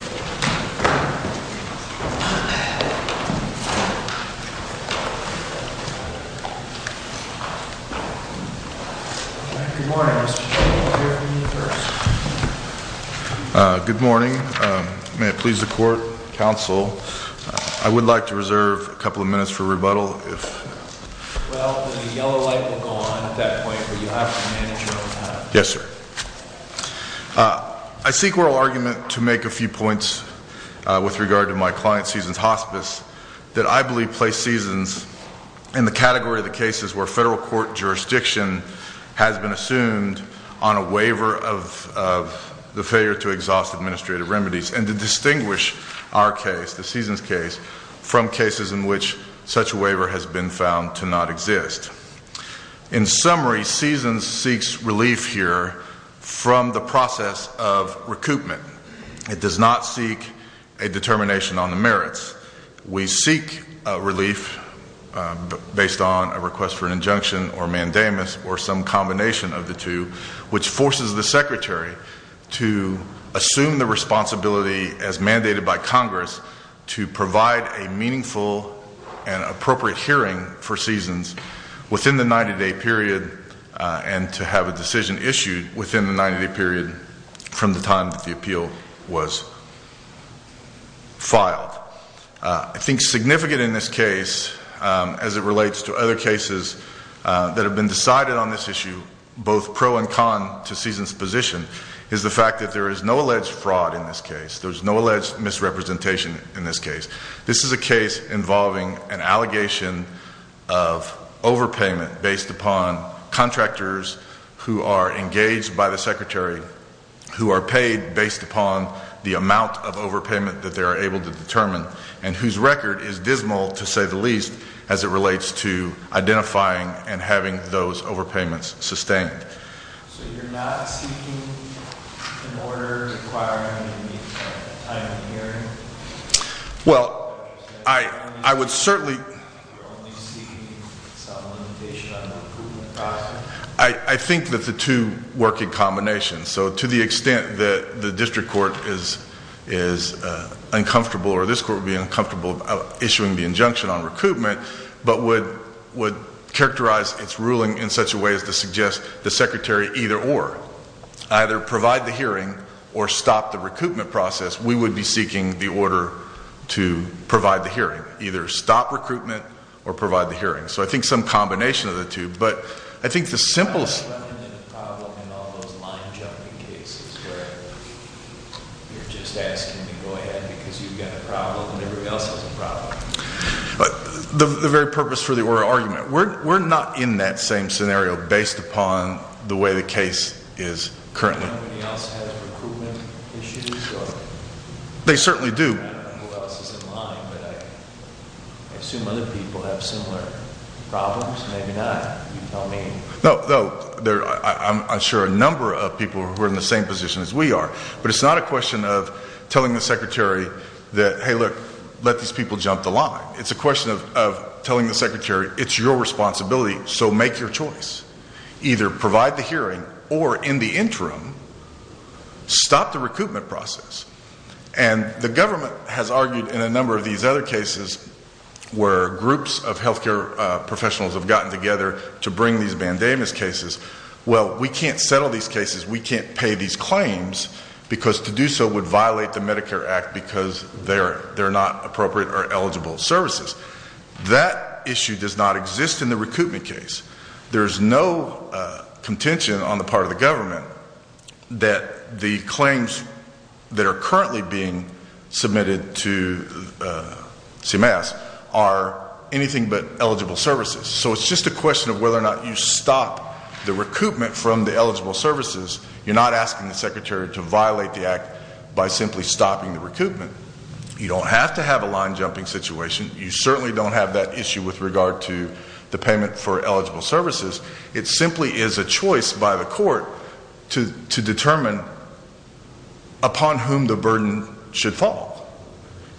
Good morning. May it please the Court, Counsel, I would like to reserve a couple of minutes for rebuttal. Well, the yellow light will go on at that point, but you have to manage your own time. Yes, sir. I seek oral argument to make a few points with regard to my client, Seasons Hospice, that I believe placed Seasons in the category of the cases where federal court jurisdiction has been assumed on a waiver of the failure to exhaust administrative remedies and to distinguish our case, the Seasons case, from cases in which such a waiver has been from the process of recoupment. It does not seek a determination on the merits. We seek relief based on a request for an injunction or mandamus or some combination of the two, which forces the Secretary to assume the responsibility as mandated by Congress to provide a meaningful and appropriate hearing for Seasons within the 90-day period and to have a decision issued within the 90-day period from the time that the appeal was filed. I think significant in this case, as it relates to other cases that have been decided on this issue, both pro and con to Seasons' position, is the fact that there is no alleged fraud in this case. There is no alleged misrepresentation in this case. This is a case involving an allegation of overpayment based upon contractors who are engaged by the Secretary, who are paid based upon the amount of overpayment that they are able to determine, and whose record is dismal, to say the least, as it relates to identifying and having those overpayments sustained. So you're not seeking an order requiring any time in the hearing? Well, I would certainly... You're only seeking some limitation on the recoupment process? I think that the two work in combination. So, to the extent that the District Court is uncomfortable, or this Court would be uncomfortable issuing the injunction on recoupment, but would characterize its ruling in such a way as to suggest the Secretary either or. Either provide the hearing, or stop the recoupment process, we would be seeking the order to provide the hearing. Either stop recruitment, or provide the hearing. So I think some combination of the two. But I think the simple... How is that a problem in all those line jumping cases, where you're just asking to go ahead because you've got a problem and everyone else has a problem? The very purpose for the oral argument. We're not in that same scenario, based upon the way the case is currently. Nobody else has recoupment issues? They certainly do. I don't know who else is in line, but I assume other people have similar problems? Maybe not. You can tell me. No, I'm sure a number of people who are in the same position as we are. But it's not a question of telling the Secretary, hey look, let these people jump the line. It's a question of telling the Secretary, it's your responsibility, so make your choice. Either provide the hearing, or in the interim, stop the recoupment process. And the government has argued in a number of these other cases, where groups of health care professionals have gotten together to bring these bandanas cases. Well, we can't settle these cases, we can't pay these claims, because to do so would violate the Medicare Act because they're not appropriate or eligible services. That issue does not exist in the recoupment case. There's no contention on the part of the government that the claims that are currently being submitted to CMS are anything but eligible services. So it's just a question of whether or not you stop the recoupment from the eligible services. You're not asking the Secretary to violate the act by simply stopping the recoupment. You don't have to have a line jumping situation. You certainly don't have that issue with regard to the payment for eligible services. It simply is a choice by the court to determine upon whom the burden should fall.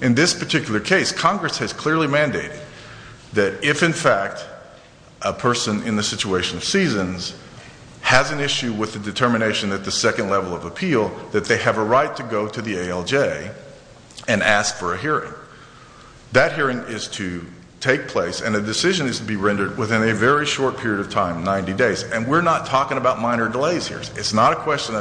In this particular case, Congress has clearly mandated that if, in fact, a person in the situation of seasons has an issue with the determination at the second level of appeal, that they have a right to go to the ALJ and ask for a hearing. That hearing is to take place, and a decision is to be rendered within a very short period of time, 90 days. And we're not talking about minor delays here. It's not a question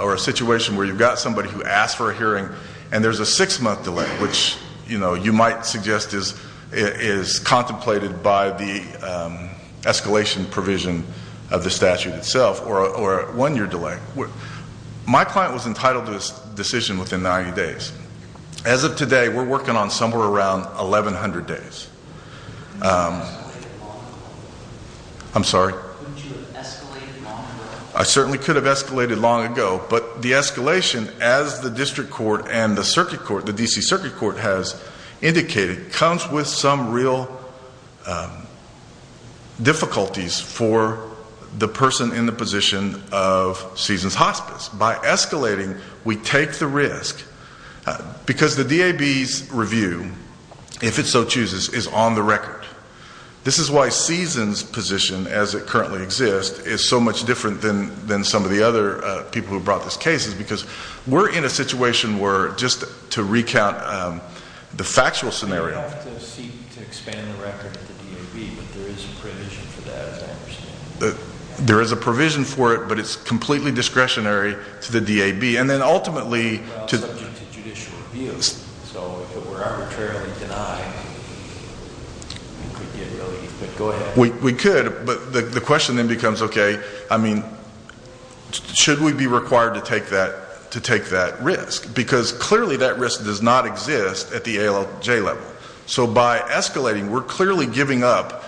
or a situation where you've got somebody who asked for a hearing, and there's a six-month delay, which you might suggest is contemplated by the escalation provision of the statute itself, or a one-year delay. My client was entitled to a decision within 90 days. As of today, we're working on somewhere around 1,100 days. I'm sorry? Wouldn't you have escalated long ago? I certainly could have escalated long ago, but the escalation, as the district court and the circuit court, the D.C. Circuit Court has indicated, comes with some real difficulties for the person in the position of seasons hospice. By escalating, we take the risk, because the DAB's review, if it so chooses, is on the record. This is why seasons' position, as it currently exists, is so much different than some of the other people who brought this case, because we're in a situation where, just to recount the factual scenario... You'd have to seek to expand the record to the DAB, but there is a provision for that, as I understand. There is a provision for it, but it's completely discretionary to the DAB. Well, it's subject to judicial review, so if it were arbitrarily denied, we could get relief, but go ahead. We could, but the question then becomes, okay, should we be required to take that risk? Because, clearly, that risk does not exist at the ALJ level. So, by escalating, we're clearly giving up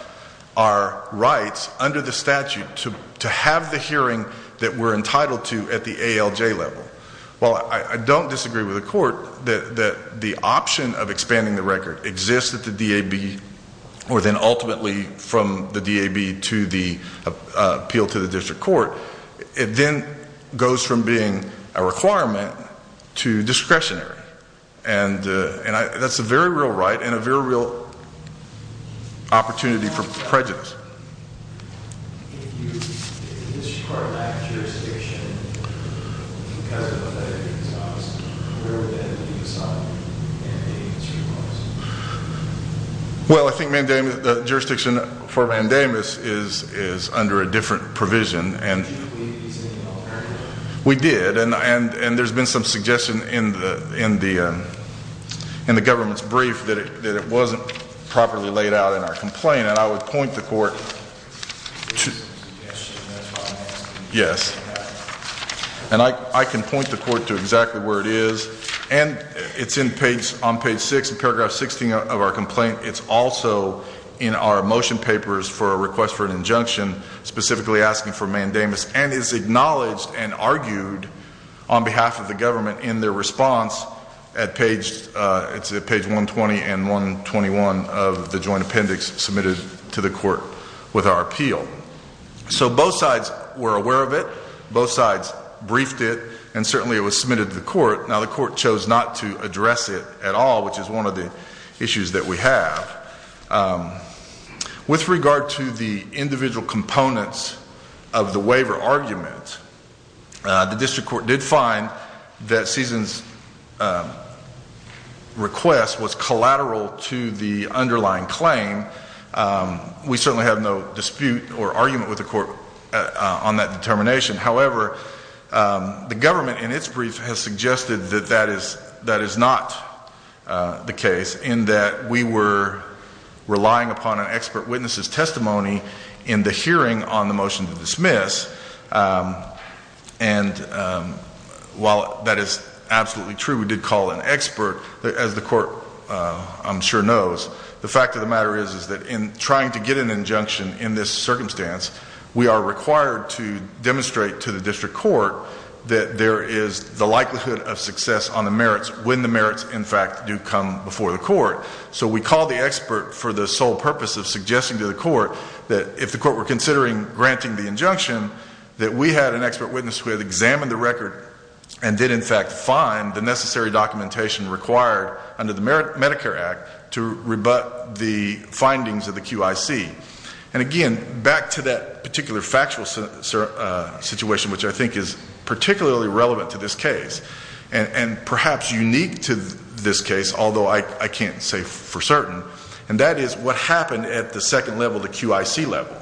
our rights under the statute to have the hearing that we're entitled to at the ALJ level. While I don't disagree with the court that the option of expanding the record exists at the DAB, or then, ultimately, from the DAB to the appeal to the district court, it then goes from being a requirement to discretionary. And that's a very real right and a very real opportunity for prejudice. If the district court lacked jurisdiction, because of what the DAB tells us, where would that leave us on mandating two months? Well, I think the jurisdiction for mandamus is under a different provision. Do you believe it's in the alternative? We did, and there's been some suggestion in the government's brief that it wasn't properly laid out in our complaint. And I would point the court to, yes. And I can point the court to exactly where it is. And it's on page 6, paragraph 16 of our complaint. It's also in our motion papers for a request for an injunction, specifically asking for mandamus. And it's acknowledged and argued on behalf of the government in their response at page, 120 and 121 of the joint appendix submitted to the court with our appeal. So both sides were aware of it. Both sides briefed it. And certainly, it was submitted to the court. Now, the court chose not to address it at all, which is one of the issues that we have. With regard to the individual components of the waiver argument, the district court did find that Ceason's request was collateral to the underlying claim. We certainly have no dispute or argument with the court on that determination. However, the government in its brief has suggested that that is not the case, in that we were relying upon an expert witness's testimony in the hearing on the motion to dismiss. And while that is absolutely true, we did call an expert. As the court, I'm sure, knows, the fact of the matter is that in trying to get an injunction in this circumstance, we are required to demonstrate to the district court that there is the likelihood of success on the merits when the merits, in fact, do come before the court. So we called the expert for the sole purpose of suggesting to the court that if the court were considering granting the injunction, that we had an expert witness who had examined the record and did, in fact, find the necessary documentation required under the Medicare Act to rebut the findings of the QIC. And again, back to that particular factual situation, which I think is particularly relevant to this case, and perhaps unique to this case, although I can't say for certain, and that is what happened at the second level, the QIC level.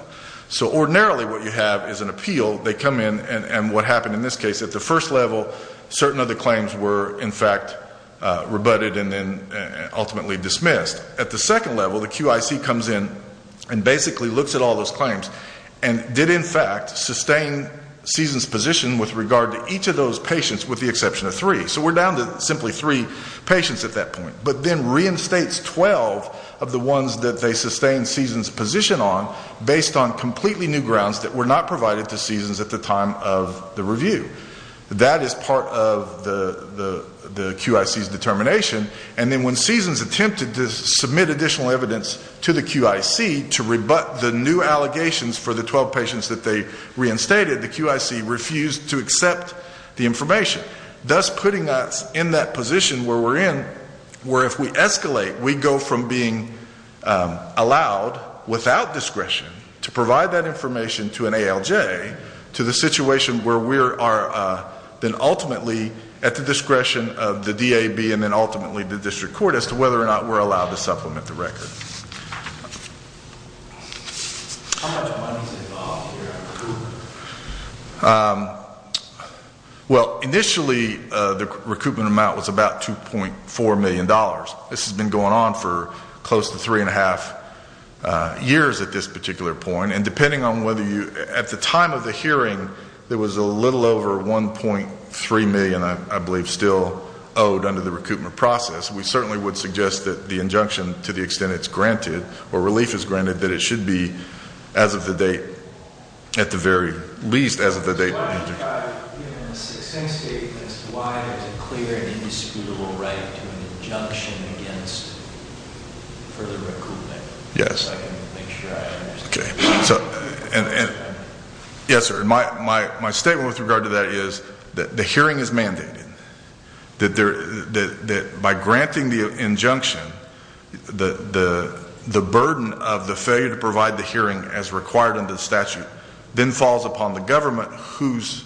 So ordinarily what you have is an appeal. They come in, and what happened in this case, at the first level, certain of the claims were, in fact, rebutted and then ultimately dismissed. At the second level, the QIC comes in and basically looks at all those claims and did, in fact, sustain CSEN's position with regard to each of those patients with the exception of three. So we're down to simply three patients at that point. But then reinstates 12 of the ones that they sustained CSEN's position on based on completely new grounds that were not provided to CSEN's at the time of the review. That is part of the QIC's determination. And then when CSEN's attempted to submit additional evidence to the QIC to rebut the new allegations for the 12 patients that they reinstated, the QIC refused to accept the information, thus putting us in that position where we're in, where if we escalate, we go from being allowed, without discretion, to provide that information to an ALJ, to the situation where we are then ultimately at the discretion of the DAB and then ultimately the district court as to whether or not we're allowed to supplement the record. How much money is involved here at recoupment? Well, initially the recoupment amount was about $2.4 million. This has been going on for close to three and a half years at this particular point. And depending on whether you, at the time of the hearing, there was a little over $1.3 million, I believe, still owed under the recoupment process. We certainly would suggest that the injunction, to the extent it's granted, or relief is granted, that it should be, as of the date, at the very least, as of the date of the injunction. Why is it clear and indisputable right to an injunction against further recoupment? Yes. My statement with regard to that is that the hearing is mandated. That by granting the injunction, the burden of the failure to provide the hearing as required under the statute then falls upon the government, whose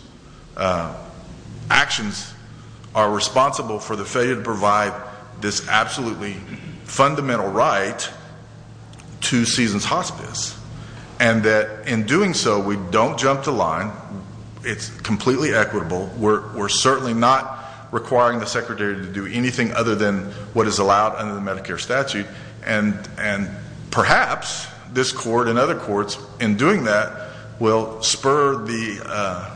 actions are responsible for the failure to provide this absolutely fundamental right to Seasons Hospice. And that in doing so, we don't jump the line. It's completely equitable. We're certainly not requiring the Secretary to do anything other than what is allowed under the Medicare statute. And perhaps this Court and other courts, in doing that, will spur the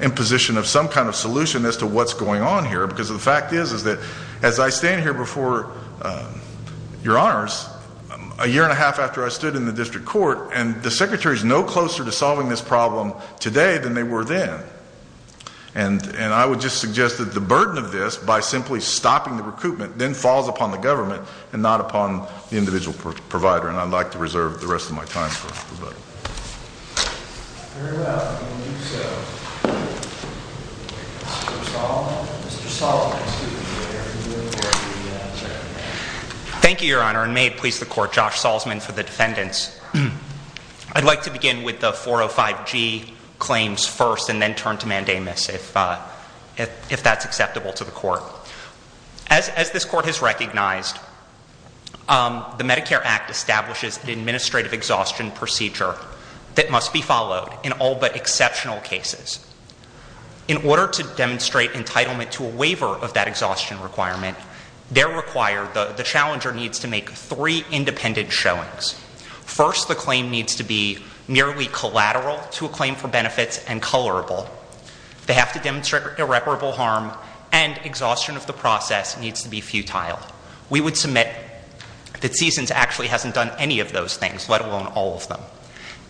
imposition of some kind of solution as to what's going on here. Because the fact is that, as I stand here before Your Honors, a year and a half after I stood in the District Court, and the Secretary is no closer to solving this problem today than they were then. And I would just suggest that the burden of this, by simply stopping the recoupment, then falls upon the government and not upon the individual provider. And I'd like to reserve the rest of my time for that. Mr. Salzman. Thank you, Your Honor. And may it please the Court, Josh Salzman for the defendants. I'd like to begin with the 405G claims first and then turn to Mandamus if that's acceptable to the Court. As this Court has recognized, the Medicare Act establishes an administrative exhaustion procedure that must be followed in all but exceptional cases. In order to demonstrate entitlement to a waiver of that exhaustion requirement, the challenger needs to make three independent showings. First, the claim needs to be merely collateral to a claim for benefits and colorable. They have to demonstrate irreparable harm. And exhaustion of the process needs to be futile. We would submit that CSUNS actually hasn't done any of those things, let alone all of them.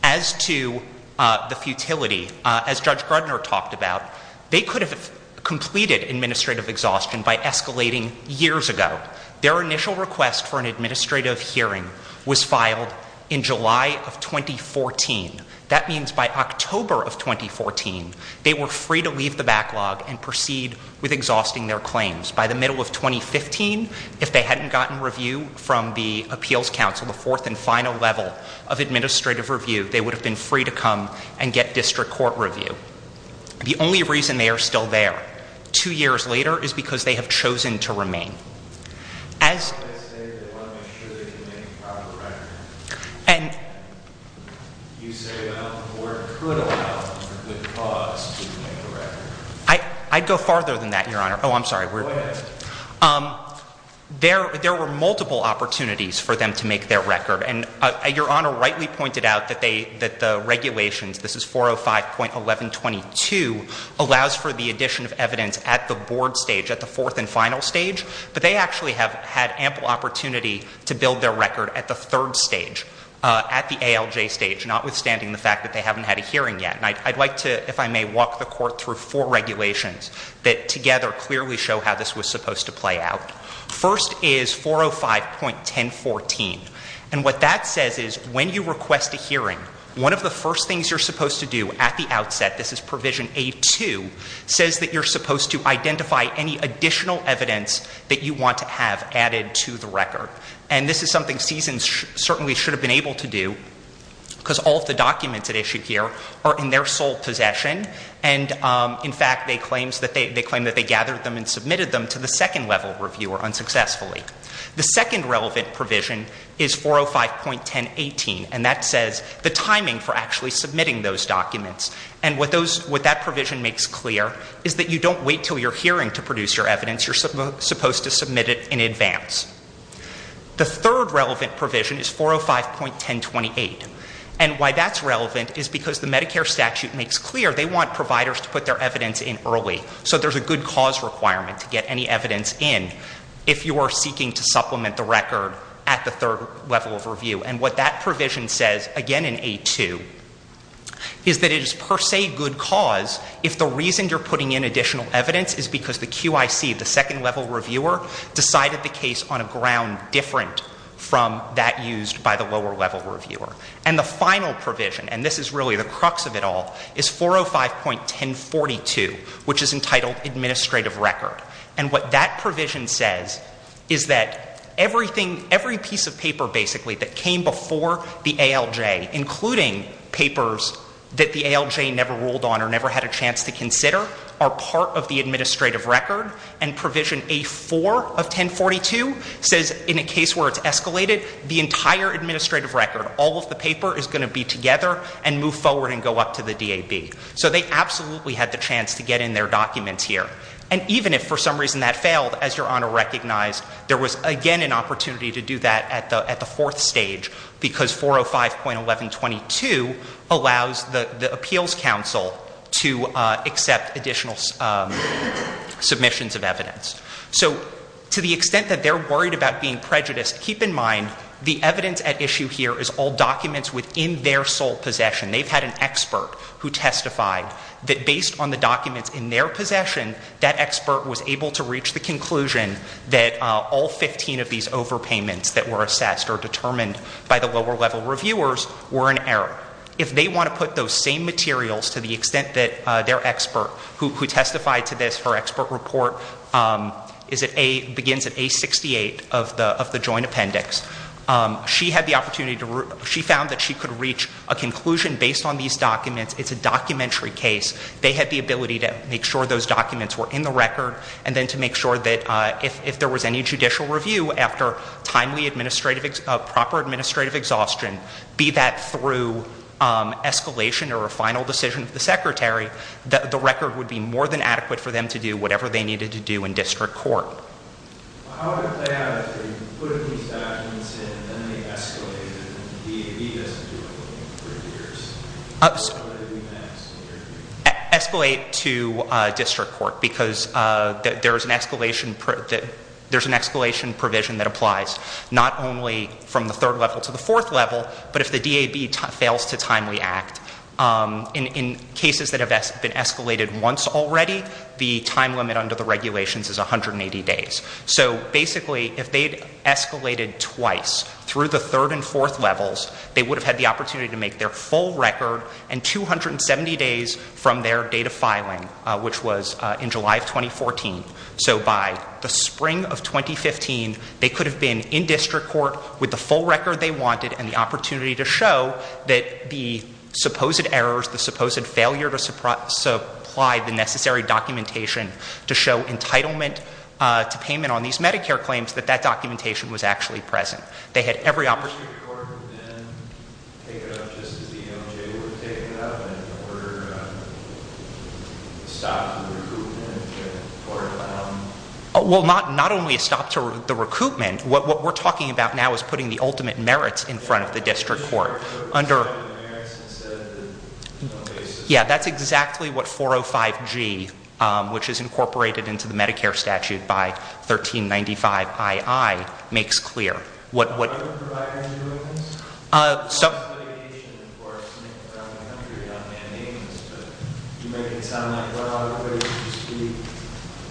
As to the futility, as Judge Grudner talked about, they could have completed administrative exhaustion by escalating years ago. Their initial request for an administrative hearing was filed in July of 2014. That means by October of 2014, they were free to leave the backlog and proceed with exhausting their claims. By the middle of 2015, if they hadn't gotten review from the Appeals Council, the fourth and final level of administrative review, they would have been free to come and get district court review. The only reason they are still there, two years later, is because they have chosen to remain. As... And... I'd go farther than that, Your Honor. Oh, I'm sorry. There were multiple opportunities for them to make their record. And Your Honor rightly pointed out that the regulations, this is 405.1122, allows for the addition of evidence at the board stage, at the fourth and final stage. But they actually have had ample opportunity to build their record at the third stage, at the ALJ stage, notwithstanding the fact that they haven't had a hearing yet. And I'd like to, if I may, walk the Court through four regulations that together clearly show how this was supposed to play out. First is 405.1014. And what that says is when you request a hearing, one of the first things you're supposed to do at the outset, this is provision A2, says that you're supposed to identify any additional evidence that you want to have added to the record. And this is something CSUN certainly should have been able to do, because all of the documents at issue here are in their sole possession. And in fact, they claim that they gathered them and submitted them to the second level reviewer unsuccessfully. The second relevant provision is 405.1018. And that says the timing for actually submitting those documents. And what that provision makes clear is that you don't wait until you're hearing to produce your evidence, you're supposed to submit it in advance. The third relevant provision is 405.1028. And why that's relevant is because the Medicare statute makes clear they want providers to put their evidence in early. So there's a good cause requirement to get any evidence in if you are seeking to supplement the record at the third level of review. And what that provision says, again in A2, is that it is per se good cause if the reason you're putting in additional evidence is because the QIC, the second level reviewer, decided the case on a ground different from that used by the lower level reviewer. And the final provision, and this is really the crux of it all, is 405.1042, which is entitled Administrative Record. And what that provision says is that everything, every piece of paper basically that came before the ALJ, including papers that the ALJ never ruled on or never had a chance to consider, are part of the administrative record. And provision A4 of 1042 says in a case where it's escalated, the entire administrative record, all of the paper is going to be together and move forward and go up to the DAB. So they absolutely had the chance to get in their documents here. And even if for some reason that failed, as Your Honor recognized, there was again an opportunity to do that at the fourth stage, because 405.1122 allows the Appeals Council to accept additional submissions of evidence. So to the extent that they're worried about being prejudiced, keep in mind, the evidence at issue here is all documents within their sole possession. They've had an expert who testified that based on the documents in their possession, that expert was able to reach the conclusion that all 15 of these overpayments that were assessed or determined by the lower level reviewers were in error. If they want to put those same materials to the extent that their expert who testified to this for She had the opportunity to, she found that she could reach a conclusion based on these documents. It's a documentary case. They had the ability to make sure those documents were in the record. And then to make sure that if there was any judicial review after timely administrative, proper administrative exhaustion, be that through escalation or a final decision of the secretary, that the record would be more than adequate for them to do whatever they needed to do in district court. How would it play out if they put these documents in and then they escalate and the DAB doesn't do anything for years? What would it be next in your view? Escalate to district court because there's an escalation provision that applies. Not only from the third level to the fourth level, but if the DAB fails to timely act. In cases that have been escalated once already, the time limit under the regulations is 180 days. So basically, if they'd escalated twice through the third and fourth levels, they would have had the opportunity to make their full record and 270 days from their data filing, which was in July of 2014. So by the spring of 2015, they could have been in district court with the full record they wanted and had the opportunity to show that the supposed errors, the supposed failure to supply the necessary documentation to show entitlement to payment on these Medicare claims, that that documentation was actually present. They had every opportunity. Did the district court then take it up just as the DOJ would take it up in order to stop the recoupment or? Well, not only a stop to the recoupment, what we're talking about now is putting the ultimate merits in front of the district court. Under- Merits instead of the basis. Yeah, that's exactly what 405G, which is incorporated into the Medicare statute by 1395II, makes clear. What would- Provider's agreements? Stop- What about litigation, of course? I mean, we're out in the country. We're not mandating this, but you make it sound like a lot of it would just be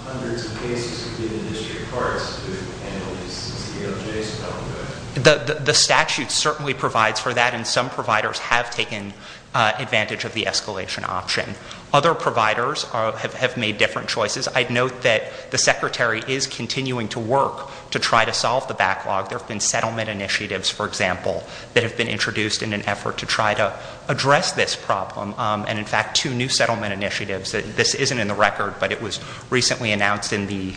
hundreds of cases would be in the district courts, and it would just be DOJ's problem. The statute certainly provides for that, and some providers have taken advantage of the escalation option. Other providers have made different choices. I'd note that the secretary is continuing to work to try to solve the backlog. There have been settlement initiatives, for example, that have been introduced in an effort to try to address this problem, and in fact, two new settlement initiatives. This isn't in the record, but it was recently announced in the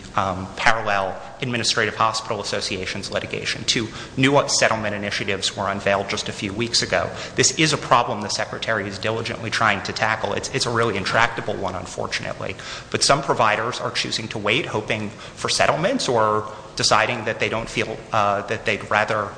parallel administrative hospital associations litigation. Two new settlement initiatives were unveiled just a few weeks ago. This is a problem the secretary is diligently trying to tackle. It's a really intractable one, unfortunately. But some providers are choosing to wait, hoping for settlements, or deciding that they'd rather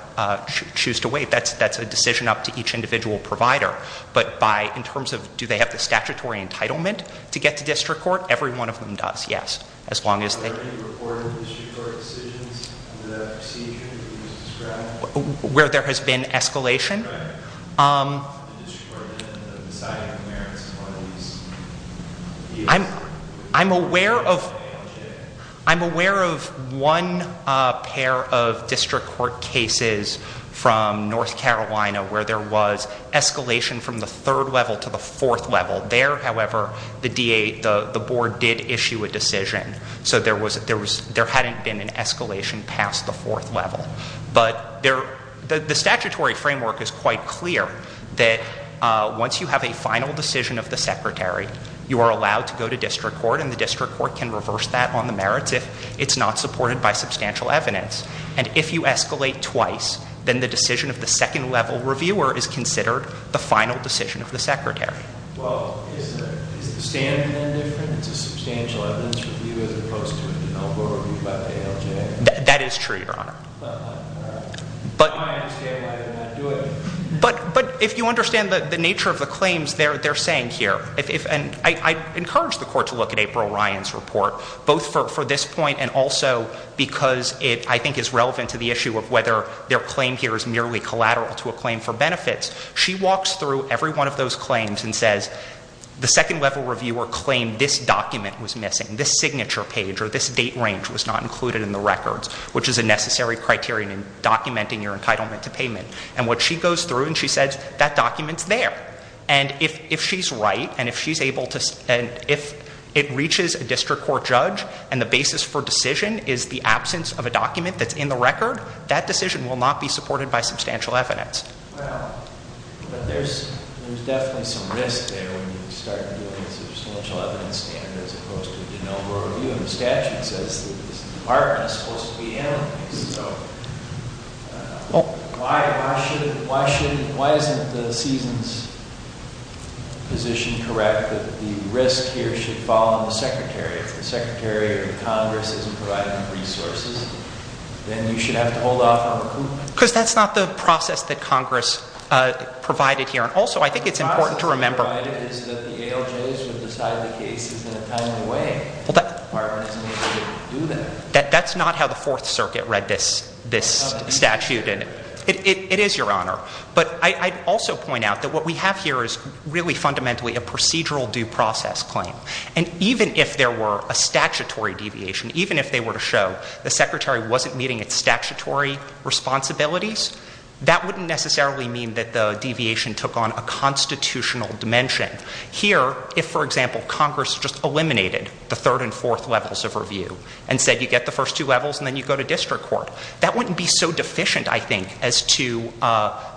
choose to wait. That's a decision up to each individual provider. But in terms of, do they have the statutory entitlement to get to district court? Every one of them does, yes. As long as they- Are there any reported district court decisions in the procedure that you described? Where there has been escalation? I'm aware of one pair of district court cases from North Carolina where there was escalation from the third level to the fourth level. There, however, the board did issue a decision. So there hadn't been an escalation past the fourth level. But the statutory framework is quite clear that once you have a final decision of the secretary, you are allowed to go to district court and the district court can reverse that on the merits if it's not supported by substantial evidence. And if you escalate twice, then the decision of the second level reviewer is considered the final decision of the secretary. Well, is the standard then different? It's a substantial evidence review as opposed to an elbow review by the ALJ? That is true, your honor. But- Why am I escalating and not doing it? But if you understand the nature of the claims they're saying here, and I encourage the court to look at April Ryan's report, both for this point and also because it, I think, is relevant to the issue of whether their claim here is merely collateral to a claim for benefits. She walks through every one of those claims and says, the second level reviewer claimed this document was missing. This signature page or this date range was not included in the records, which is a necessary criterion in documenting your entitlement to payment. And what she goes through and she says, that document's there. And if she's right and if it reaches a district court judge and the basis for decision is the absence of a document that's in the record, that decision will not be supported by substantial evidence. Well, but there's definitely some risk there when you start doing a substantial evidence standard as opposed to an elbow review. And the statute says that this department is supposed to be handling this, so why isn't the season's position correct that the risk here should fall on the secretary? If the secretary of Congress isn't providing the resources, then you should have to hold off on recoupment. Because that's not the process that Congress provided here. And also, I think it's important to remember- The process provided is that the ALJs would decide the cases in a timely way. The department isn't able to do that. That's not how the Fourth Circuit read this statute. It is, Your Honor. But I'd also point out that what we have here is really fundamentally a procedural due process claim. And even if there were a statutory deviation, even if they were to show the secretary wasn't meeting its statutory responsibilities, that wouldn't necessarily mean that the deviation took on a constitutional dimension. Here, if, for example, Congress just eliminated the third and fourth levels of review and said you get the first two levels and then you go to district court, that wouldn't be so deficient, I think, as to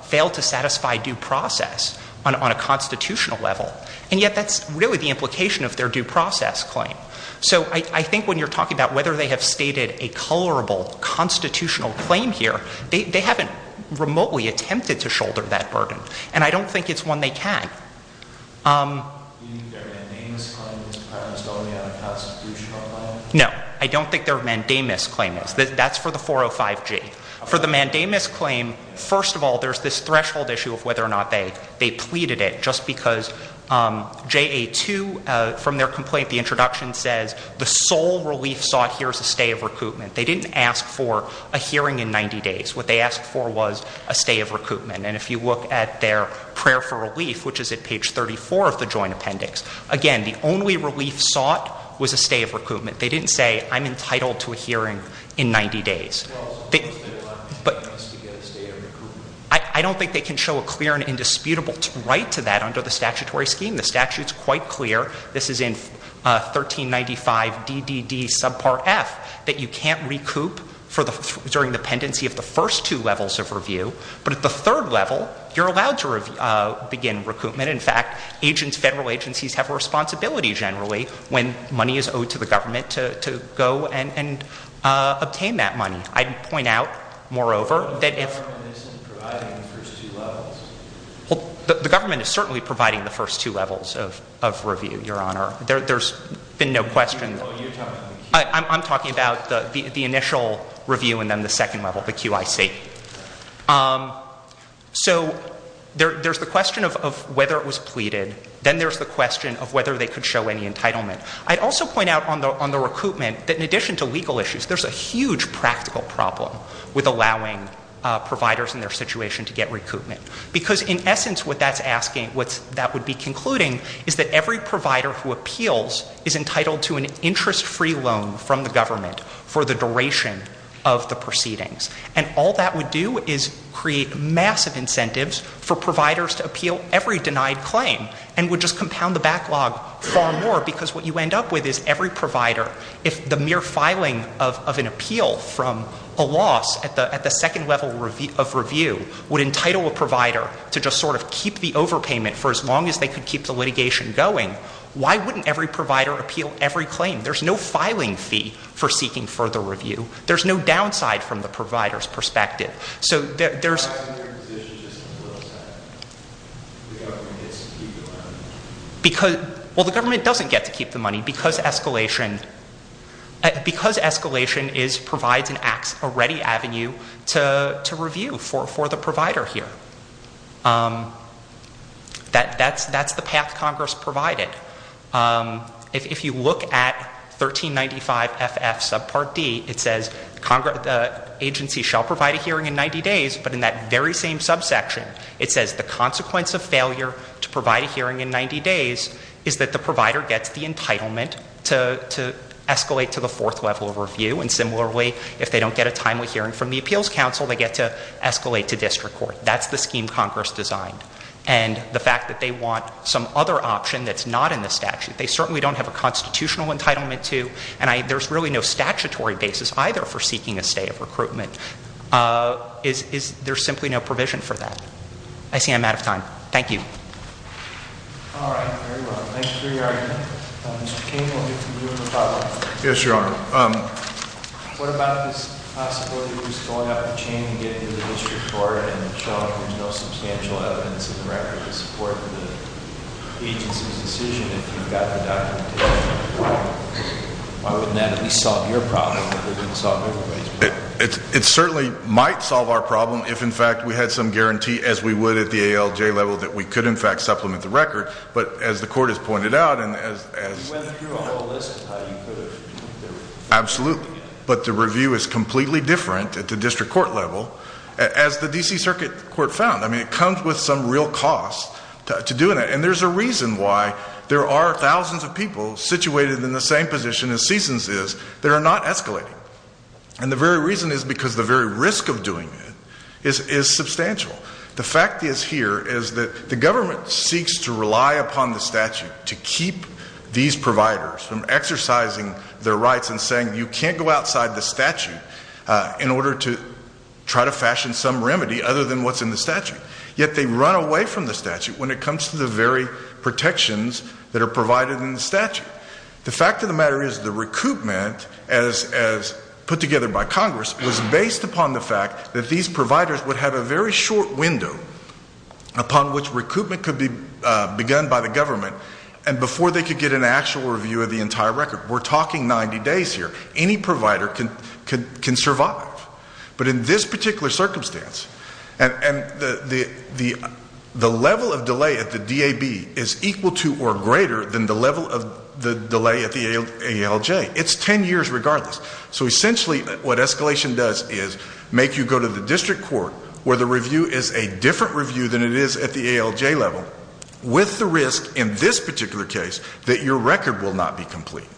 fail to satisfy due process on a constitutional level. And yet, that's really the implication of their due process claim. So I think when you're talking about whether they have stated a colorable constitutional claim here, they haven't remotely attempted to shoulder that burden. And I don't think it's one they can. Do you think their mandamus claim is primarily a constitutional claim? No, I don't think their mandamus claim is. That's for the 405G. For the mandamus claim, first of all, there's this threshold issue of whether or not they pleaded it, just because JA2, from their complaint, the introduction says the sole relief sought here is a stay of recoupment. They didn't ask for a hearing in 90 days. What they asked for was a stay of recoupment. And if you look at their prayer for relief, which is at page 34 of the joint appendix. Again, the only relief sought was a stay of recoupment. They didn't say, I'm entitled to a hearing in 90 days. Well, so what's the deadline for us to get a stay of recoupment? I don't think they can show a clear and indisputable right to that under the statutory scheme. The statute's quite clear. This is in 1395 DDD subpart F, that you can't recoup during the pendency of the first two levels of review. But at the third level, you're allowed to begin recoupment. In fact, federal agencies have a responsibility, generally, when money is owed to the government to go and obtain that money. I'd point out, moreover, that if- The government isn't providing the first two levels. Well, the government is certainly providing the first two levels of review, your honor. There's been no question- You're talking about the Q- I'm talking about the initial review and then the second level, the QIC. So there's the question of whether it was pleaded. Then there's the question of whether they could show any entitlement. I'd also point out on the recoupment that in addition to legal issues, there's a huge practical problem with allowing providers in their situation to get recoupment. Because in essence, what that's asking, what that would be concluding, is that every provider who appeals is entitled to an interest-free loan from the government for the duration of the proceedings. And all that would do is create massive incentives for providers to appeal every denied claim and would just compound the backlog far more. Because what you end up with is every provider, if the mere filing of an appeal from a loss at the second level of review would entitle a provider to just sort of keep the overpayment for as long as they could keep the litigation going, why wouldn't every provider appeal every claim? There's no filing fee for seeking further review. There's no downside from the provider's perspective. So there's- Why isn't there a position just on the flip side? The government gets to keep the money. Well, the government doesn't get to keep the money because escalation provides a ready avenue to review for the provider here. That's the path Congress provided. If you look at 1395 FF subpart D, it says the agency shall provide a hearing in 90 days, but in that very same subsection, it says the consequence of failure to provide a hearing in 90 days is that the provider gets the entitlement to escalate to the fourth level of review. And similarly, if they don't get a timely hearing from the appeals council, they get to escalate to district court. That's the scheme Congress designed. And the fact that they want some other option that's not in the statute. They certainly don't have a constitutional entitlement to, and there's really no statutory basis either for seeking a stay of recruitment. There's simply no provision for that. I see I'm out of time. Thank you. All right, very well. Thank you for your argument. Mr. Cain, we'll get to you in a moment. Yes, your honor. What about this possibility of just going up the chain and getting to the district court and showing there's no substantial evidence in the record to support the agency's decision if you've got the documentation? Why wouldn't that at least solve your problem if it didn't solve everybody's problem? It certainly might solve our problem if in fact we had some guarantee as we would at the ALJ level that we could in fact supplement the record. But as the court has pointed out and as- You went through a whole list of how you could have. Absolutely. But the review is completely different at the district court level as the DC circuit court found. I mean, it comes with some real cost to doing it. And there's a reason why there are thousands of people situated in the same position as CSUNS is that are not escalating. And the very reason is because the very risk of doing it is substantial. The fact is here is that the government seeks to rely upon the statute to keep these providers from exercising their rights and saying you can't go outside the statute in order to try to fashion some remedy other than what's in the statute. Yet they run away from the statute when it comes to the very protections that are provided in the statute. The fact of the matter is the recoupment as put together by Congress was based upon the fact that these providers would have a very short window upon which recoupment could be begun by the government. And before they could get an actual review of the entire record. We're talking 90 days here. Any provider can survive. But in this particular circumstance, and the level of delay at the DAB is equal to or greater than the level of the delay at the ALJ. It's ten years regardless. So essentially what escalation does is make you go to the district court where the review is a different review than it is at the ALJ level. With the risk in this particular case that your record will not be complete.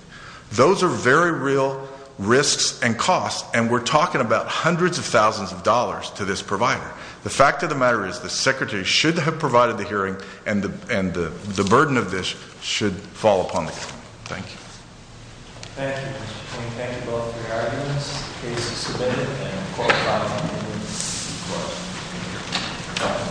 Those are very real risks and costs, and we're talking about hundreds of thousands of dollars to this provider. The fact of the matter is the secretary should have provided the hearing, and the burden of this should fall upon the court. Thank you. Thank you. We thank you both for your arguments. The case is submitted, and of course, I'm going to give this to the court.